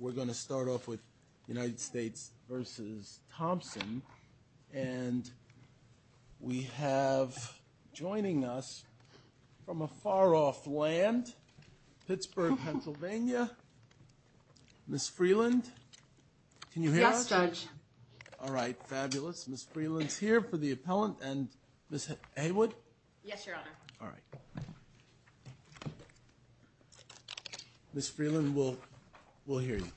We're going to start off with United States v. Thompson, and we have, joining us from a far-off land, Pittsburgh, Pennsylvania, Ms. Freeland, can you hear us? Yes, Judge. All right, fabulous. Ms. Freeland's here for the appellant, and Ms. Heywood? Yes, Your Honor. All right. Ms. Freeland, we'll hear you.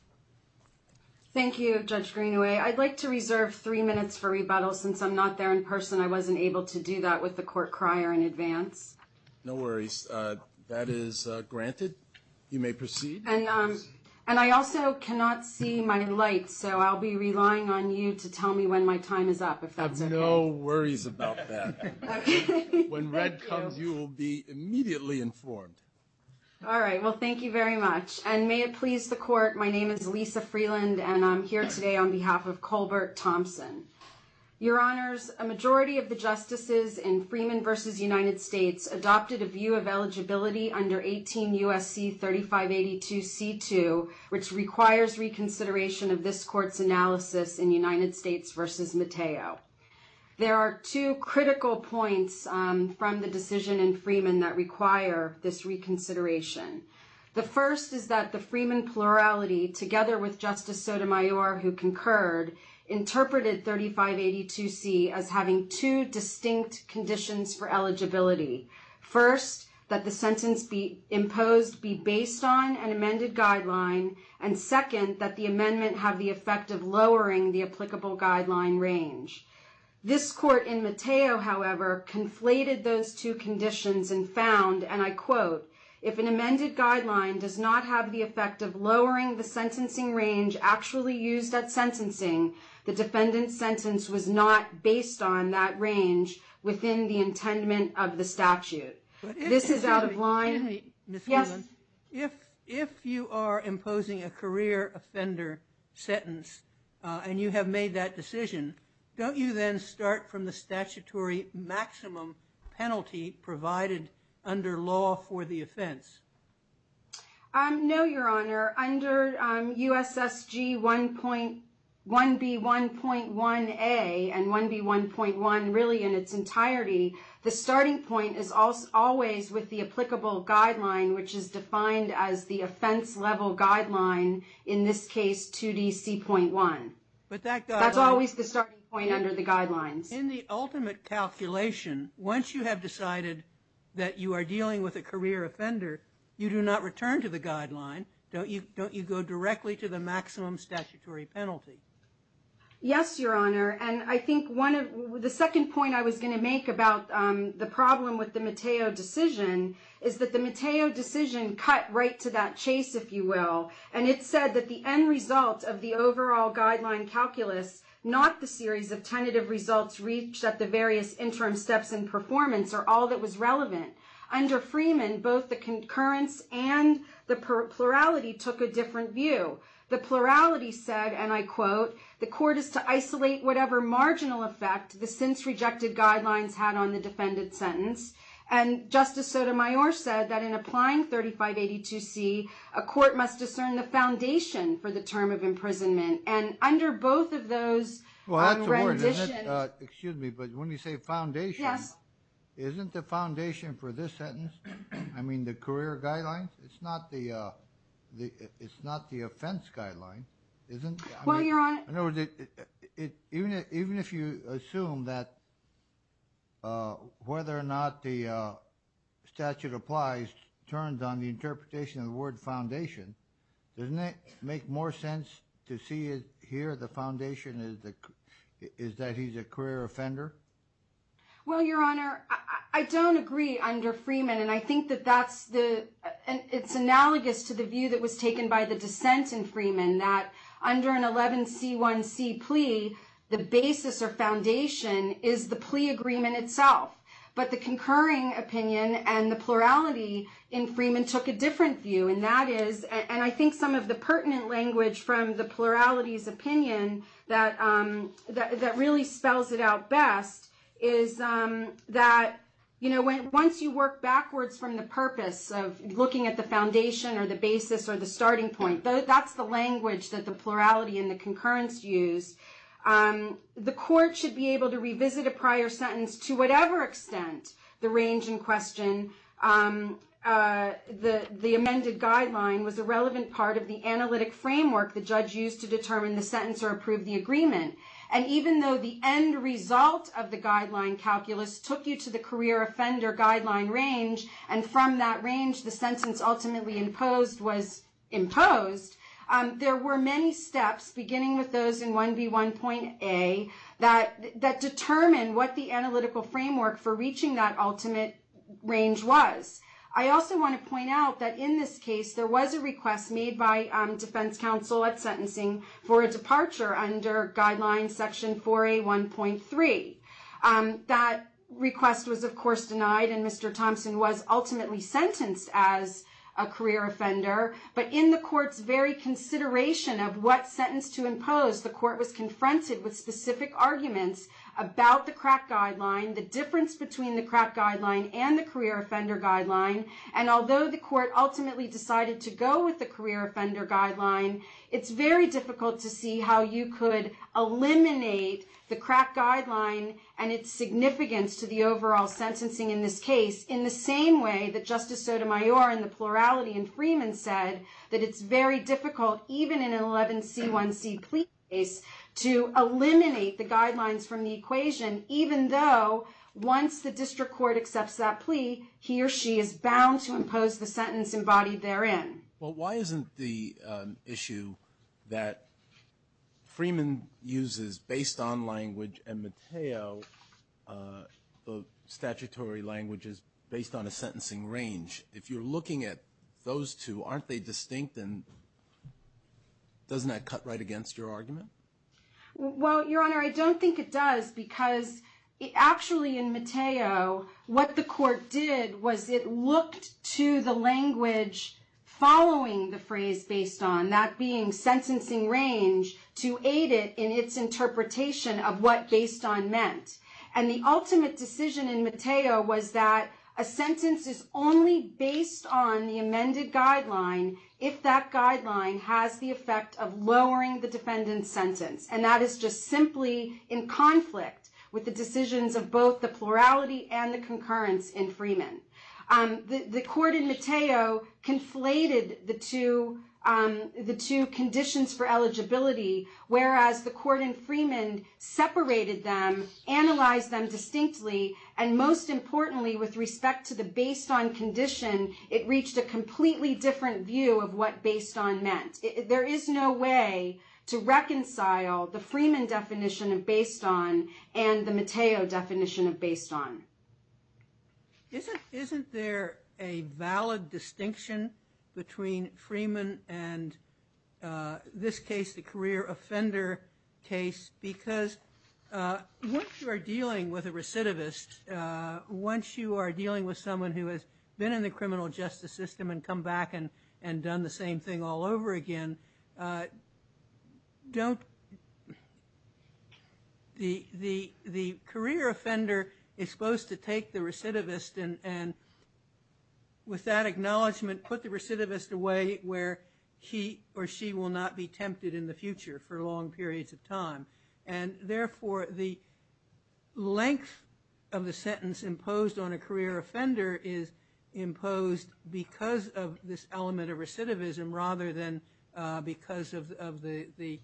Thank you, Judge Greenaway. I'd like to reserve three minutes for rebuttal since I'm not there in person. I wasn't able to do that with the court crier in advance. No worries. That is granted. You may proceed. And I also cannot see my light, so I'll be relying on you to tell me when my time is up. I have no worries about that. Okay. Thank you. You will be immediately informed. All right. Well, thank you very much. And may it please the court, my name is Lisa Freeland, and I'm here today on behalf of Colbert Thompson. Your Honors, a majority of the justices in Freeman v. United States adopted a view of eligibility under 18 U.S.C. 3582c2, which requires reconsideration of this court's analysis in United States v. Matteo. There are two critical points from the decision in Freeman that require this reconsideration. The first is that the Freeman plurality, together with Justice Sotomayor, who concurred, interpreted 3582c as having two distinct conditions for eligibility. First, that the sentence imposed be based on an amended guideline, and second, that the amendment have the effect of lowering the applicable guideline range. This court in Matteo, however, conflated those two conditions and found, and I quote, if an amended guideline does not have the effect of lowering the sentencing range actually used at sentencing, the defendant's sentence was not based on that range within the intendment of the statute. This is out of line. If you are imposing a career offender sentence and you have made that decision, don't you then start from the statutory maximum penalty provided under law for the offense? No, Your Honor. Under USSG 1B1.1a and 1B1.1 really in its entirety, the starting point is always with the applicable guideline, which is defined as the offense level guideline, in this case 2DC.1. That's always the starting point under the guidelines. In the ultimate calculation, once you have decided that you are dealing with a career offender, you do not return to the guideline. Don't you go directly to the maximum statutory penalty? Yes, Your Honor. The second point I was going to make about the problem with the Matteo decision is that the Matteo decision cut right to that chase, if you will, and it said that the end result of the overall guideline calculus, not the series of tentative results reached at the various interim steps in performance, are all that was relevant. Under Freeman, both the concurrence and the plurality took a different view. The plurality said, and I quote, the court is to isolate whatever marginal effect the since-rejected guidelines had on the defended sentence. Justice Sotomayor said that in applying 3582C, a court must discern the foundation for the term of imprisonment. Under both of those renditions... That's important. Excuse me, but when you say foundation, isn't the foundation for this sentence, I mean the career guidelines? It's not the offense guideline, isn't it? Well, Your Honor... In other words, even if you assume that whether or not the statute applies turns on the interpretation of the word foundation, doesn't it make more sense to see it here, the foundation is that he's a career offender? Well, Your Honor, I don't agree under Freeman, and I think that that's the... It's analogous to the view that was taken by the dissent in Freeman, that under an 11C1C plea, the basis or foundation is the plea agreement itself. But the concurring opinion and the plurality in Freeman took a different view, and that is... And I think some of the pertinent language from the plurality's opinion that really spells it out best is that once you work backwards from the purpose of looking at the foundation or the basis or the starting point, that's the language that the plurality and the concurrence use, the court should be able to revisit a prior sentence to whatever extent the range in question... The amended guideline was a relevant part of the analytic framework the judge used to determine the sentence or approve the agreement. And even though the end result of the guideline calculus took you to the career offender guideline range, and from that range, the sentence ultimately imposed was imposed, there were many steps, beginning with those in 1B1.A, that determined what the analytical framework for reaching that ultimate range was. I also want to point out that in this case, there was a request made by defense counsel at sentencing for a departure under guideline section 4A1.3. That request was, of course, denied, and Mr. Thompson was ultimately sentenced as a career offender. But in the court's very consideration of what sentence to impose, the court was confronted with specific arguments about the crack guideline, the difference between the crack guideline and the career offender guideline. And although the court ultimately decided to go with the career offender guideline, it's very difficult to see how you could eliminate the crack guideline and its significance to the overall sentencing in this case in the same way that Justice Sotomayor, in the plurality in Freeman, said that it's very difficult, even in an 11C1C plea case, to eliminate the guidelines from the equation, even though once the district court accepts that plea, he or she is bound to impose the sentence embodied therein. Well, why isn't the issue that Freeman uses based on language and Matteo, the statutory language, is based on a sentencing range? If you're looking at those two, aren't they distinct? Well, Your Honor, I don't think it does. Because actually in Matteo, what the court did was it looked to the language following the phrase based on, that being sentencing range, to aid it in its interpretation of what based on meant. And the ultimate decision in Matteo was that a sentence is only based on the amended guideline if that guideline has the effect of lowering the defendant's sentence. And that is just simply in conflict with the decisions of both the plurality and the concurrence in Freeman. The court in Matteo conflated the two conditions for eligibility, whereas the court in Freeman separated them, analyzed them distinctly, and most importantly, with respect to the based on condition, it reached a completely different view of what based on meant. There is no way to reconcile the Freeman definition of based on and the Matteo definition of based on. Isn't there a valid distinction between Freeman and this case, the career offender case? Because once you are dealing with a recidivist, once you are dealing with someone who has been in the criminal justice system and come back and done the same thing all over again, the career offender is supposed to take the recidivist and with that acknowledgement put the recidivist away where he or she will not be tempted in the future for long periods of time. And therefore the length of the sentence imposed on a career offender is imposed because of this element of recidivism rather than because of the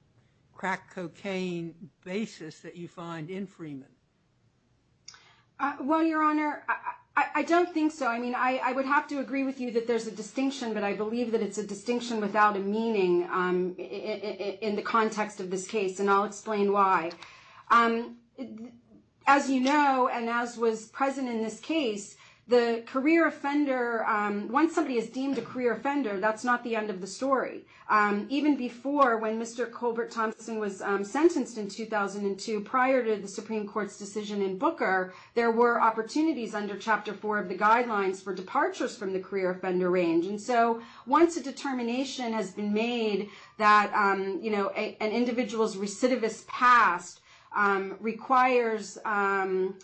crack cocaine basis that you find in Freeman. Well, Your Honor, I don't think so. I mean, I would have to agree with you that there's a distinction, but I believe that it's a distinction without a meaning in the context of this case, and I'll explain why. As you know, and as was present in this case, the career offender, once somebody is deemed a career offender, that's not the end of the story. Even before when Mr. Colbert Thompson was sentenced in 2002 prior to the Supreme Court's decision in Booker, there were opportunities under Chapter 4 of the guidelines for departures from the career offender range. And so once a determination has been made that an individual's recidivist past requires that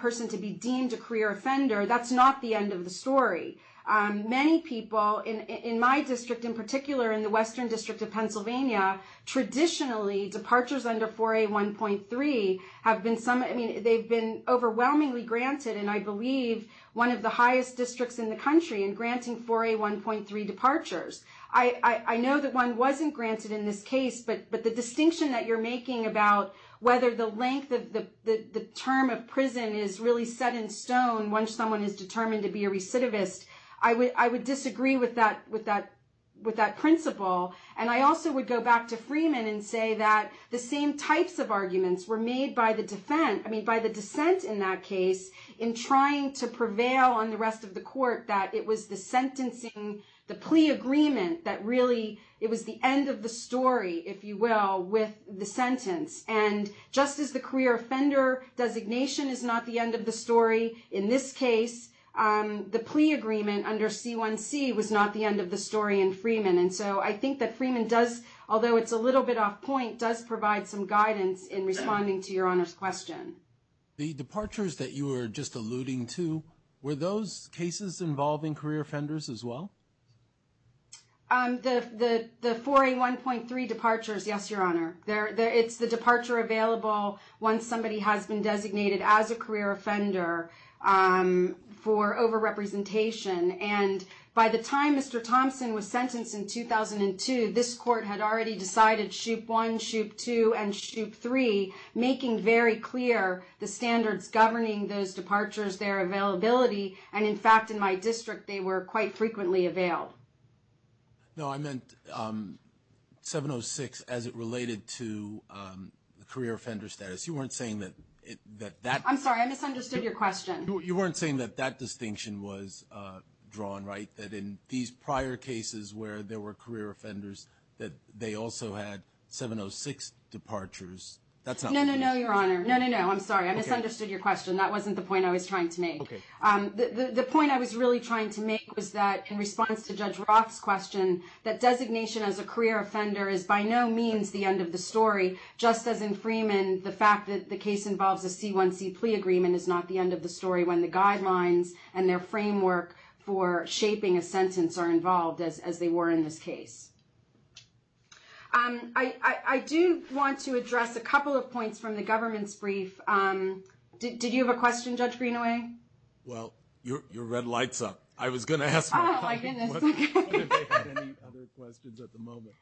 person to be deemed a career offender, that's not the end of the story. Many people in my district in particular, in the Western District of Pennsylvania, traditionally departures under 4A1.3 have been overwhelmingly granted, and I believe one of the highest districts in the country in granting 4A1.3 departures. I know that one wasn't granted in this case, but the distinction that you're making about whether the length of the term of prison is really set in stone once someone is determined to be a recidivist, I would disagree with that principle. And I also would go back to Freeman and say that the same types of arguments were made by the dissent in that case in trying to prevail on the rest of the court, that it was the sentencing, the plea agreement, that really it was the end of the story, if you will, with the sentence. And just as the career offender designation is not the end of the story in this case, the plea agreement under C1C was not the end of the story in Freeman. And so I think that Freeman does, although it's a little bit off point, does provide some guidance in responding to Your Honor's question. The departures that you were just alluding to, were those cases involving career offenders as well? The 4A1.3 departures, yes, Your Honor. It's the departure available once somebody has been designated as a career offender for overrepresentation. And by the time Mr. Thompson was sentenced in 2002, this court had already decided SHOOP1, SHOOP2, and SHOOP3, making very clear the standards governing those departures, their availability. And in fact, in my district, they were quite frequently availed. No, I meant 706 as it related to the career offender status. You weren't saying that that… I'm sorry. I misunderstood your question. You weren't saying that that distinction was drawn, right? That in these prior cases where there were career offenders, that they also had 706 departures. No, no, no, Your Honor. No, no, no. I'm sorry. I misunderstood your question. That wasn't the point I was trying to make. The point I was really trying to make was that in response to Judge Roth's question, that designation as a career offender is by no means the end of the story, just as in Freeman, the fact that the case involves a C1C plea agreement is not the end of the story when the guidelines and their framework for shaping a sentence are involved as they were in this case. I do want to address a couple of points from the government's brief. Did you have a question, Judge Greenaway? Well, your red light's up. I was going to ask… Oh, my goodness. I wonder if they have any other questions at the moment.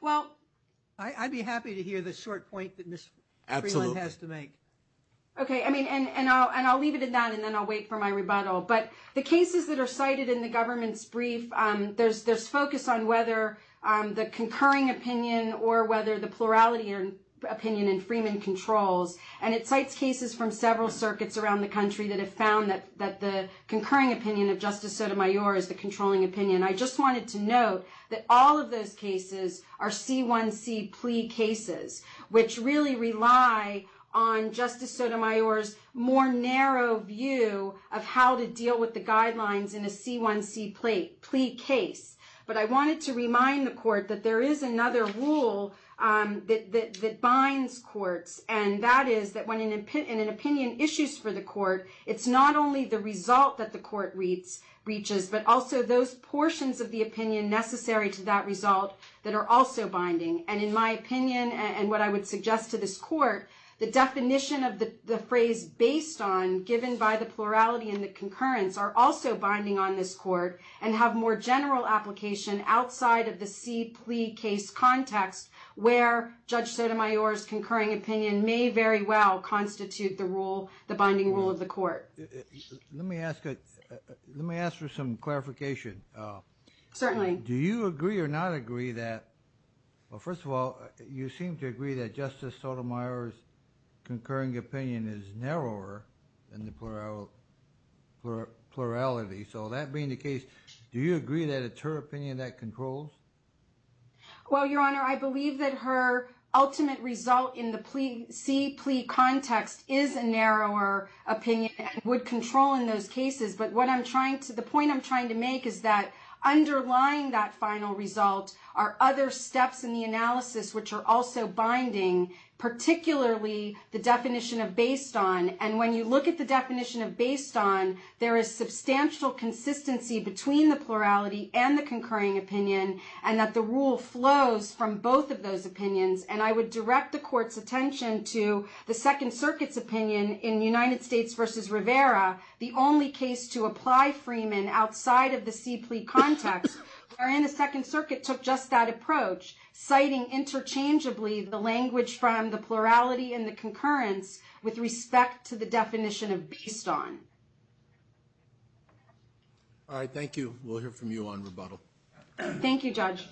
Well… I'd be happy to hear the short point that Ms. Freeland has to make. Absolutely. Okay. I mean, and I'll leave it at that, and then I'll wait for my rebuttal. But the cases that are cited in the government's brief, there's focus on whether the concurring opinion or whether the plurality opinion in Freeman controls, and it cites cases from several circuits around the country that have found that the concurring opinion of Justice Sotomayor is the controlling opinion. I just wanted to note that all of those cases are C1C plea cases, which really rely on Justice Sotomayor's more narrow view of how to deal with the guidelines in a C1C plea case. But I wanted to remind the court that there is another rule that binds courts, and that is that when an opinion issues for the court, it's not only the result that the court reaches, but also those portions of the opinion necessary to that result that are also binding. And in my opinion, and what I would suggest to this court, the definition of the phrase based on, given by the plurality and the concurrence, are also binding on this court and have more general application outside of the C plea case context, where Judge Sotomayor's concurring opinion may very well constitute the binding rule of the court. Let me ask for some clarification. Certainly. Do you agree or not agree that, well, first of all, you seem to agree that Justice Sotomayor's opinion is narrower than the plurality. So that being the case, do you agree that it's her opinion that controls? Well, Your Honor, I believe that her ultimate result in the C plea context is a narrower opinion and would control in those cases. But the point I'm trying to make is that underlying that final result are other steps in the analysis which are also binding, particularly the definition of based on. And when you look at the definition of based on, there is substantial consistency between the plurality and the concurring opinion, and that the rule flows from both of those opinions. And I would direct the court's attention to the Second Circuit's opinion in United States versus Rivera, the only case to apply Freeman outside of the C plea context, wherein the language from the plurality and the concurrence with respect to the definition of based on. All right. Thank you. We'll hear from you on rebuttal. Thank you, Judge.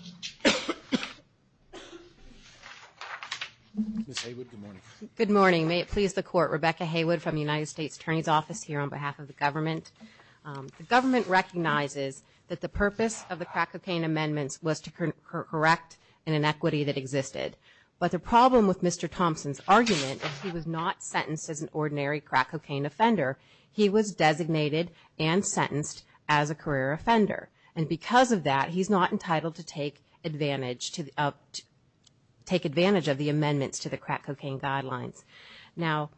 Ms. Haywood, good morning. Good morning. May it please the court. Rebecca Haywood from the United States Attorney's Office here on behalf of the government. The government recognizes that the purpose of the crack cocaine amendments was to correct an inequity that existed. But the problem with Mr. Thompson's argument is he was not sentenced as an ordinary crack cocaine offender. He was designated and sentenced as a career offender. And because of that, he's not entitled to take advantage of the amendments to the crack cocaine guidelines. Now,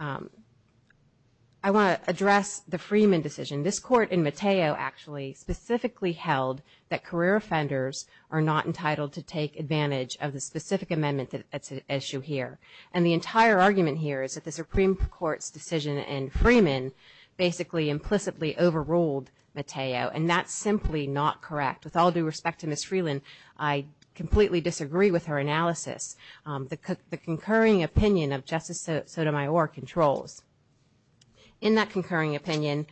I want to address the Freeman decision. This court in Mateo actually specifically held that career offenders are not entitled to take advantage of the specific amendment that's at issue here. And the entire argument here is that the Supreme Court's decision in Freeman basically implicitly overruled Mateo, and that's simply not correct. With all due respect to Ms. Freeland, I completely disagree with her analysis. The concurring opinion of Justice Sotomayor controls. In that concurring opinion,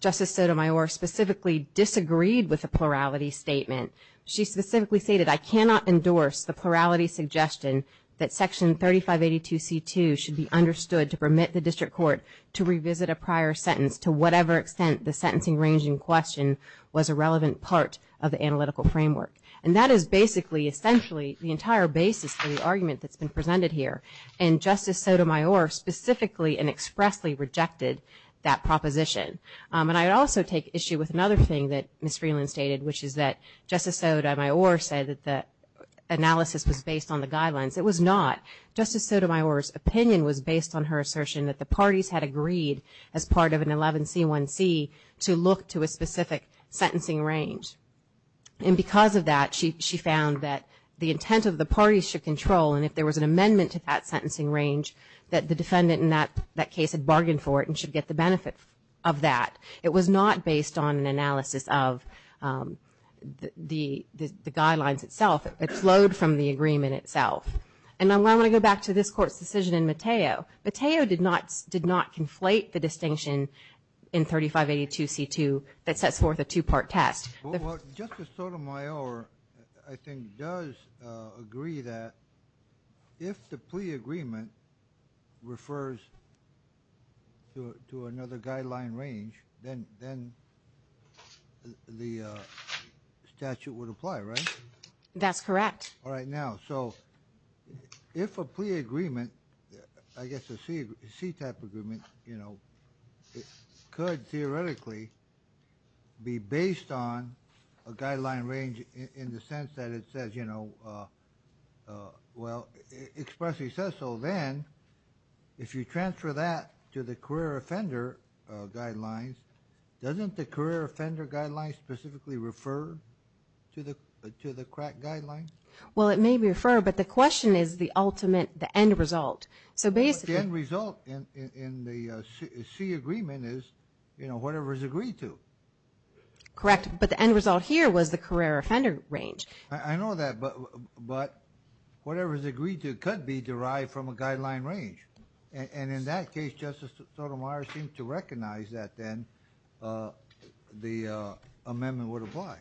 Justice Sotomayor specifically disagreed with the plurality statement. She specifically stated, I cannot endorse the plurality suggestion that Section 3582C2 should be understood to permit the district court to revisit a prior sentence to whatever extent the sentencing range in question was a relevant part of the analytical framework. And that is basically essentially the entire basis of the argument that's been presented here. And Justice Sotomayor specifically and expressly rejected that proposition. And I would also take issue with another thing that Ms. Freeland stated, which is that Justice Sotomayor said that the analysis was based on the guidelines. It was not. Justice Sotomayor's opinion was based on her assertion that the parties had agreed, as part of an 11C1C, to look to a specific sentencing range. And because of that, she found that the intent of the parties should control, and if there was an amendment to that sentencing range, that the defendant in that case had bargained for it and should get the benefit of that. It was not based on an analysis of the guidelines itself. It flowed from the agreement itself. And I want to go back to this Court's decision in Mateo. Mateo did not conflate the distinction in 3582C2 that sets forth a two-part test. Well, Justice Sotomayor, I think, does agree that if the plea agreement refers to another guideline range, then the statute would apply, right? That's correct. All right, now, so if a plea agreement, I guess a C-type agreement, you know, could theoretically be based on a guideline range in the sense that it says, you know, well, expressly says so, then if you transfer that to the career offender guidelines, doesn't the career offender guidelines specifically refer to the crack guidelines? Well, it may refer, but the question is the ultimate, the end result. So basically the end result in the C agreement is, you know, whatever is agreed to. Correct, but the end result here was the career offender range. I know that, but whatever is agreed to could be derived from a guideline range. And in that case, Justice Sotomayor seemed to recognize that then the amendment would apply.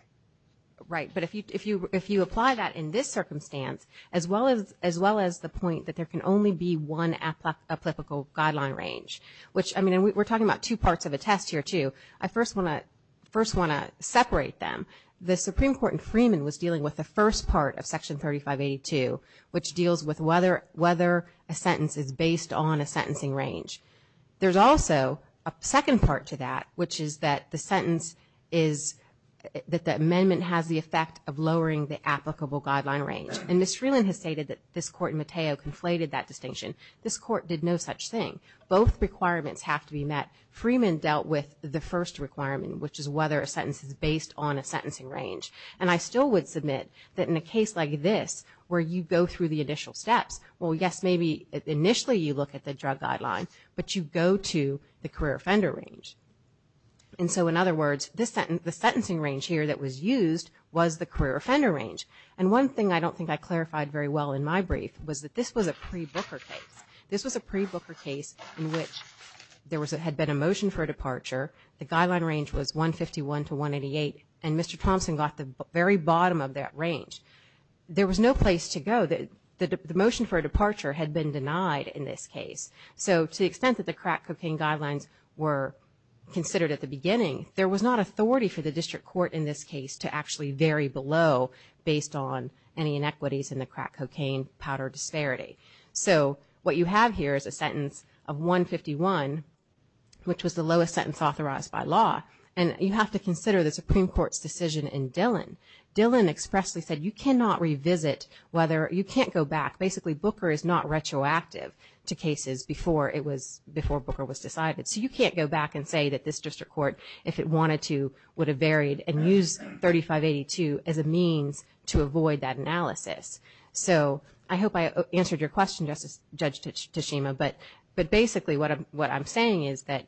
Right, but if you apply that in this circumstance, as well as the point that there can only be one applicable guideline range, which, I mean, and we're talking about two parts of a test here, too. I first want to separate them. The Supreme Court in Freeman was dealing with the first part of Section 3582, which deals with whether a sentence is based on a sentencing range. There's also a second part to that, which is that the sentence is, that the amendment has the effect of lowering the applicable guideline range. And Ms. Freeland has stated that this Court in Mateo conflated that distinction. This Court did no such thing. Both requirements have to be met. Freeman dealt with the first requirement, which is whether a sentence is based on a sentencing range. And I still would submit that in a case like this, where you go through the initial steps, well, yes, maybe initially you look at the drug guideline, but you go to the career offender range. And so, in other words, the sentencing range here that was used was the career offender range. And one thing I don't think I clarified very well in my brief was that this was a pre-Booker case. This was a pre-Booker case in which there had been a motion for a departure. The guideline range was 151 to 188. And Mr. Thompson got the very bottom of that range. There was no place to go. The motion for a departure had been denied in this case. So to the extent that the crack cocaine guidelines were considered at the beginning, there was not authority for the district court in this case to actually vary below based on any inequities in the crack cocaine powder disparity. So what you have here is a sentence of 151, which was the lowest sentence authorized by law. And you have to consider the Supreme Court's decision in Dillon. Dillon expressly said you cannot revisit whether, you can't go back. Basically, Booker is not retroactive to cases before it was, before Booker was decided. So you can't go back and say that this district court, if it wanted to, would have varied and used 3582 as a means to avoid that analysis. So I hope I answered your question, Judge Tashima. But basically what I'm saying is that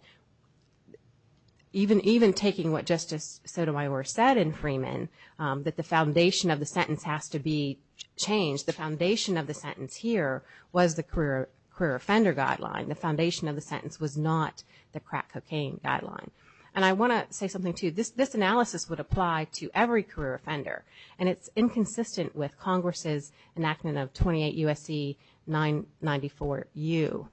even taking what Justice Sotomayor said in Freeman, that the foundation of the sentence has to be changed. The foundation of the sentence here was the career offender guideline. The foundation of the sentence was not the crack cocaine guideline. And I want to say something, too. This analysis would apply to every career offender. And it's inconsistent with Congress's enactment of 28 U.S.C. 994U,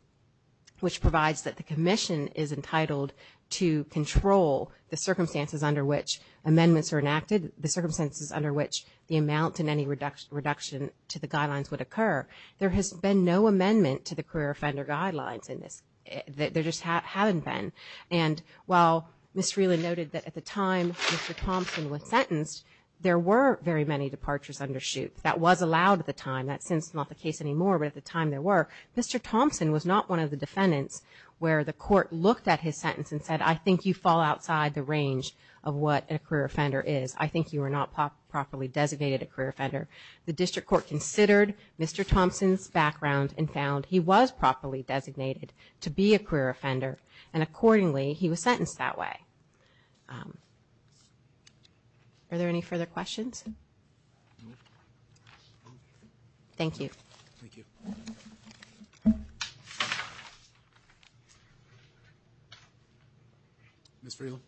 which provides that the commission is entitled to control the circumstances under which amendments are enacted, the circumstances under which the amount and any reduction to the guidelines would occur. There has been no amendment to the career offender guidelines in this. There just haven't been. And while Ms. Freeland noted that at the time Mr. Thompson was sentenced, there were very many departures under shoot. That was allowed at the time. That's since not the case anymore, but at the time there were. Mr. Thompson was not one of the defendants where the court looked at his sentence and said, I think you fall outside the range of what a career offender is. I think you are not properly designated a career offender. The district court considered Mr. Thompson's background and found he was properly designated to be a career offender. And accordingly, he was sentenced that way. Are there any further questions? Thank you. Thank you. Ms. Freeland.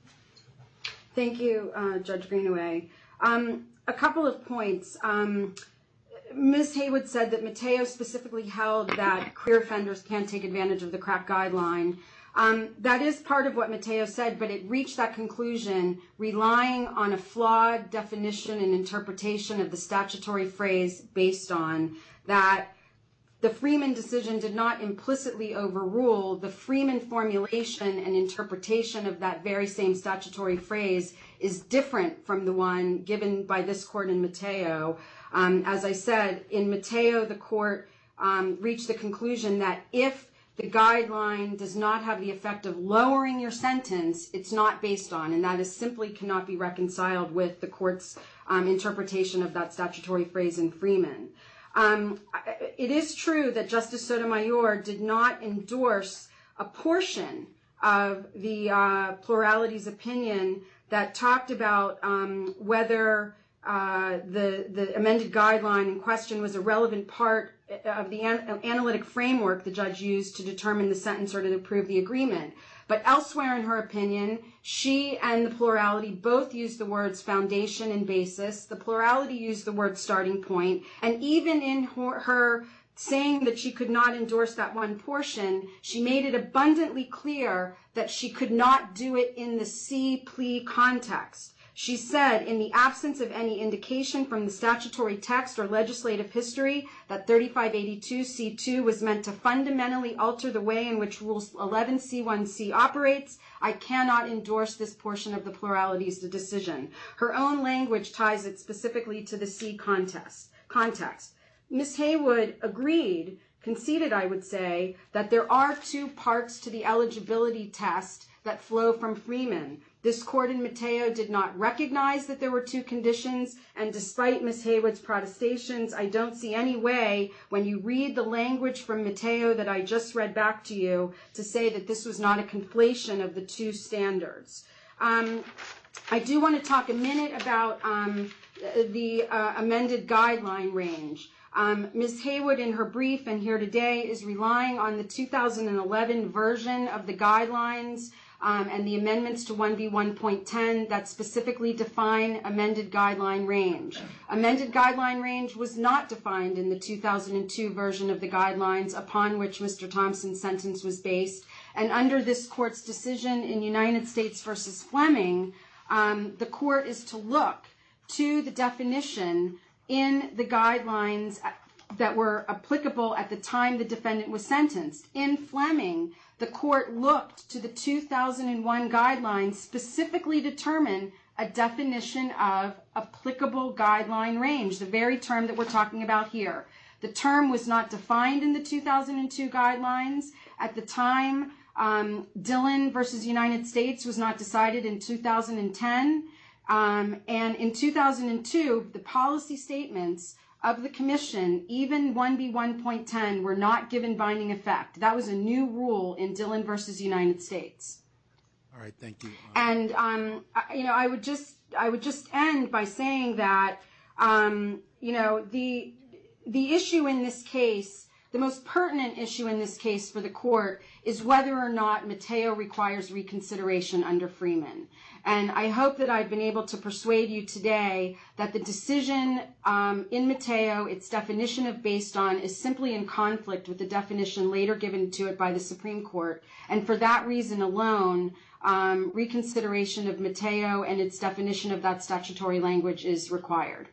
A couple of points. Ms. Haywood said that Mateo specifically held that career offenders can take advantage of the crack guideline. That is part of what Mateo said, but it reached that conclusion, relying on a flawed definition and interpretation of the statutory phrase based on that. The Freeman decision did not implicitly overrule the Freeman formulation and interpretation of that very same statutory phrase is different from the one given by this court in Mateo. As I said, in Mateo, the court reached the conclusion that if the guideline does not have the effect of lowering your sentence, it's not based on and that is simply cannot be reconciled with the court's interpretation of that statutory phrase in Freeman. It is true that Justice Sotomayor did not endorse a portion of the plurality's opinion that talked about whether the amended guideline in question was a relevant part of the analytic framework the judge used to determine the sentence or to approve the agreement. But elsewhere in her opinion, she and the plurality both used the words foundation and basis. The plurality used the word starting point. And even in her saying that she could not endorse that one portion, she made it abundantly clear that she could not do it in the C plea context. She said, in the absence of any indication from the statutory text or legislative history that 3582C2 was meant to fundamentally alter the way in which Rules 11C1C operates, I cannot endorse this portion of the plurality's decision. Her own language ties it specifically to the C context. Ms. Haywood agreed, conceded I would say, that there are two parts to the eligibility test that flow from Freeman. This court in Mateo did not recognize that there were two conditions and despite Ms. Haywood's protestations, I don't see any way when you read the language from Mateo that I just read back to you to say that this was not a conflation of the two standards. I do want to talk a minute about the amended guideline range. Ms. Haywood in her brief and here today is relying on the 2011 version of the guidelines and the amendments to 1B1.10 that specifically define amended guideline range. Amended guideline range was not defined in the 2002 version of the guidelines upon which Mr. Thompson's sentence was based. And under this court's decision in United States versus Fleming, the court is to look to the definition in the guidelines that were applicable at the time the defendant was sentenced. In Fleming, the court looked to the 2001 guidelines specifically to determine a definition of applicable guideline range, the very term that we're talking about here. The term was not defined in the 2002 guidelines. At the time, Dillon versus United States was not decided in 2010. And in 2002, the policy statements of the commission, even 1B1.10, were not given binding effect. That was a new rule in Dillon versus United States. All right, thank you. And, you know, I would just end by saying that, you know, the issue in this case, the most pertinent issue in this case for the court is whether or not Mateo requires reconsideration under Freeman. And I hope that I've been able to persuade you today that the decision in Mateo, its definition of based on is simply in conflict with the definition later given to it by the Supreme Court. And for that reason alone, reconsideration of Mateo and its definition of that statutory language is required.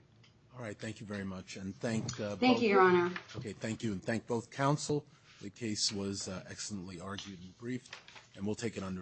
All right, thank you very much. And thank both of you. Thank you, Your Honor. Okay, thank you. And thank both counsel. The case was excellently argued and briefed. And we'll take it under review.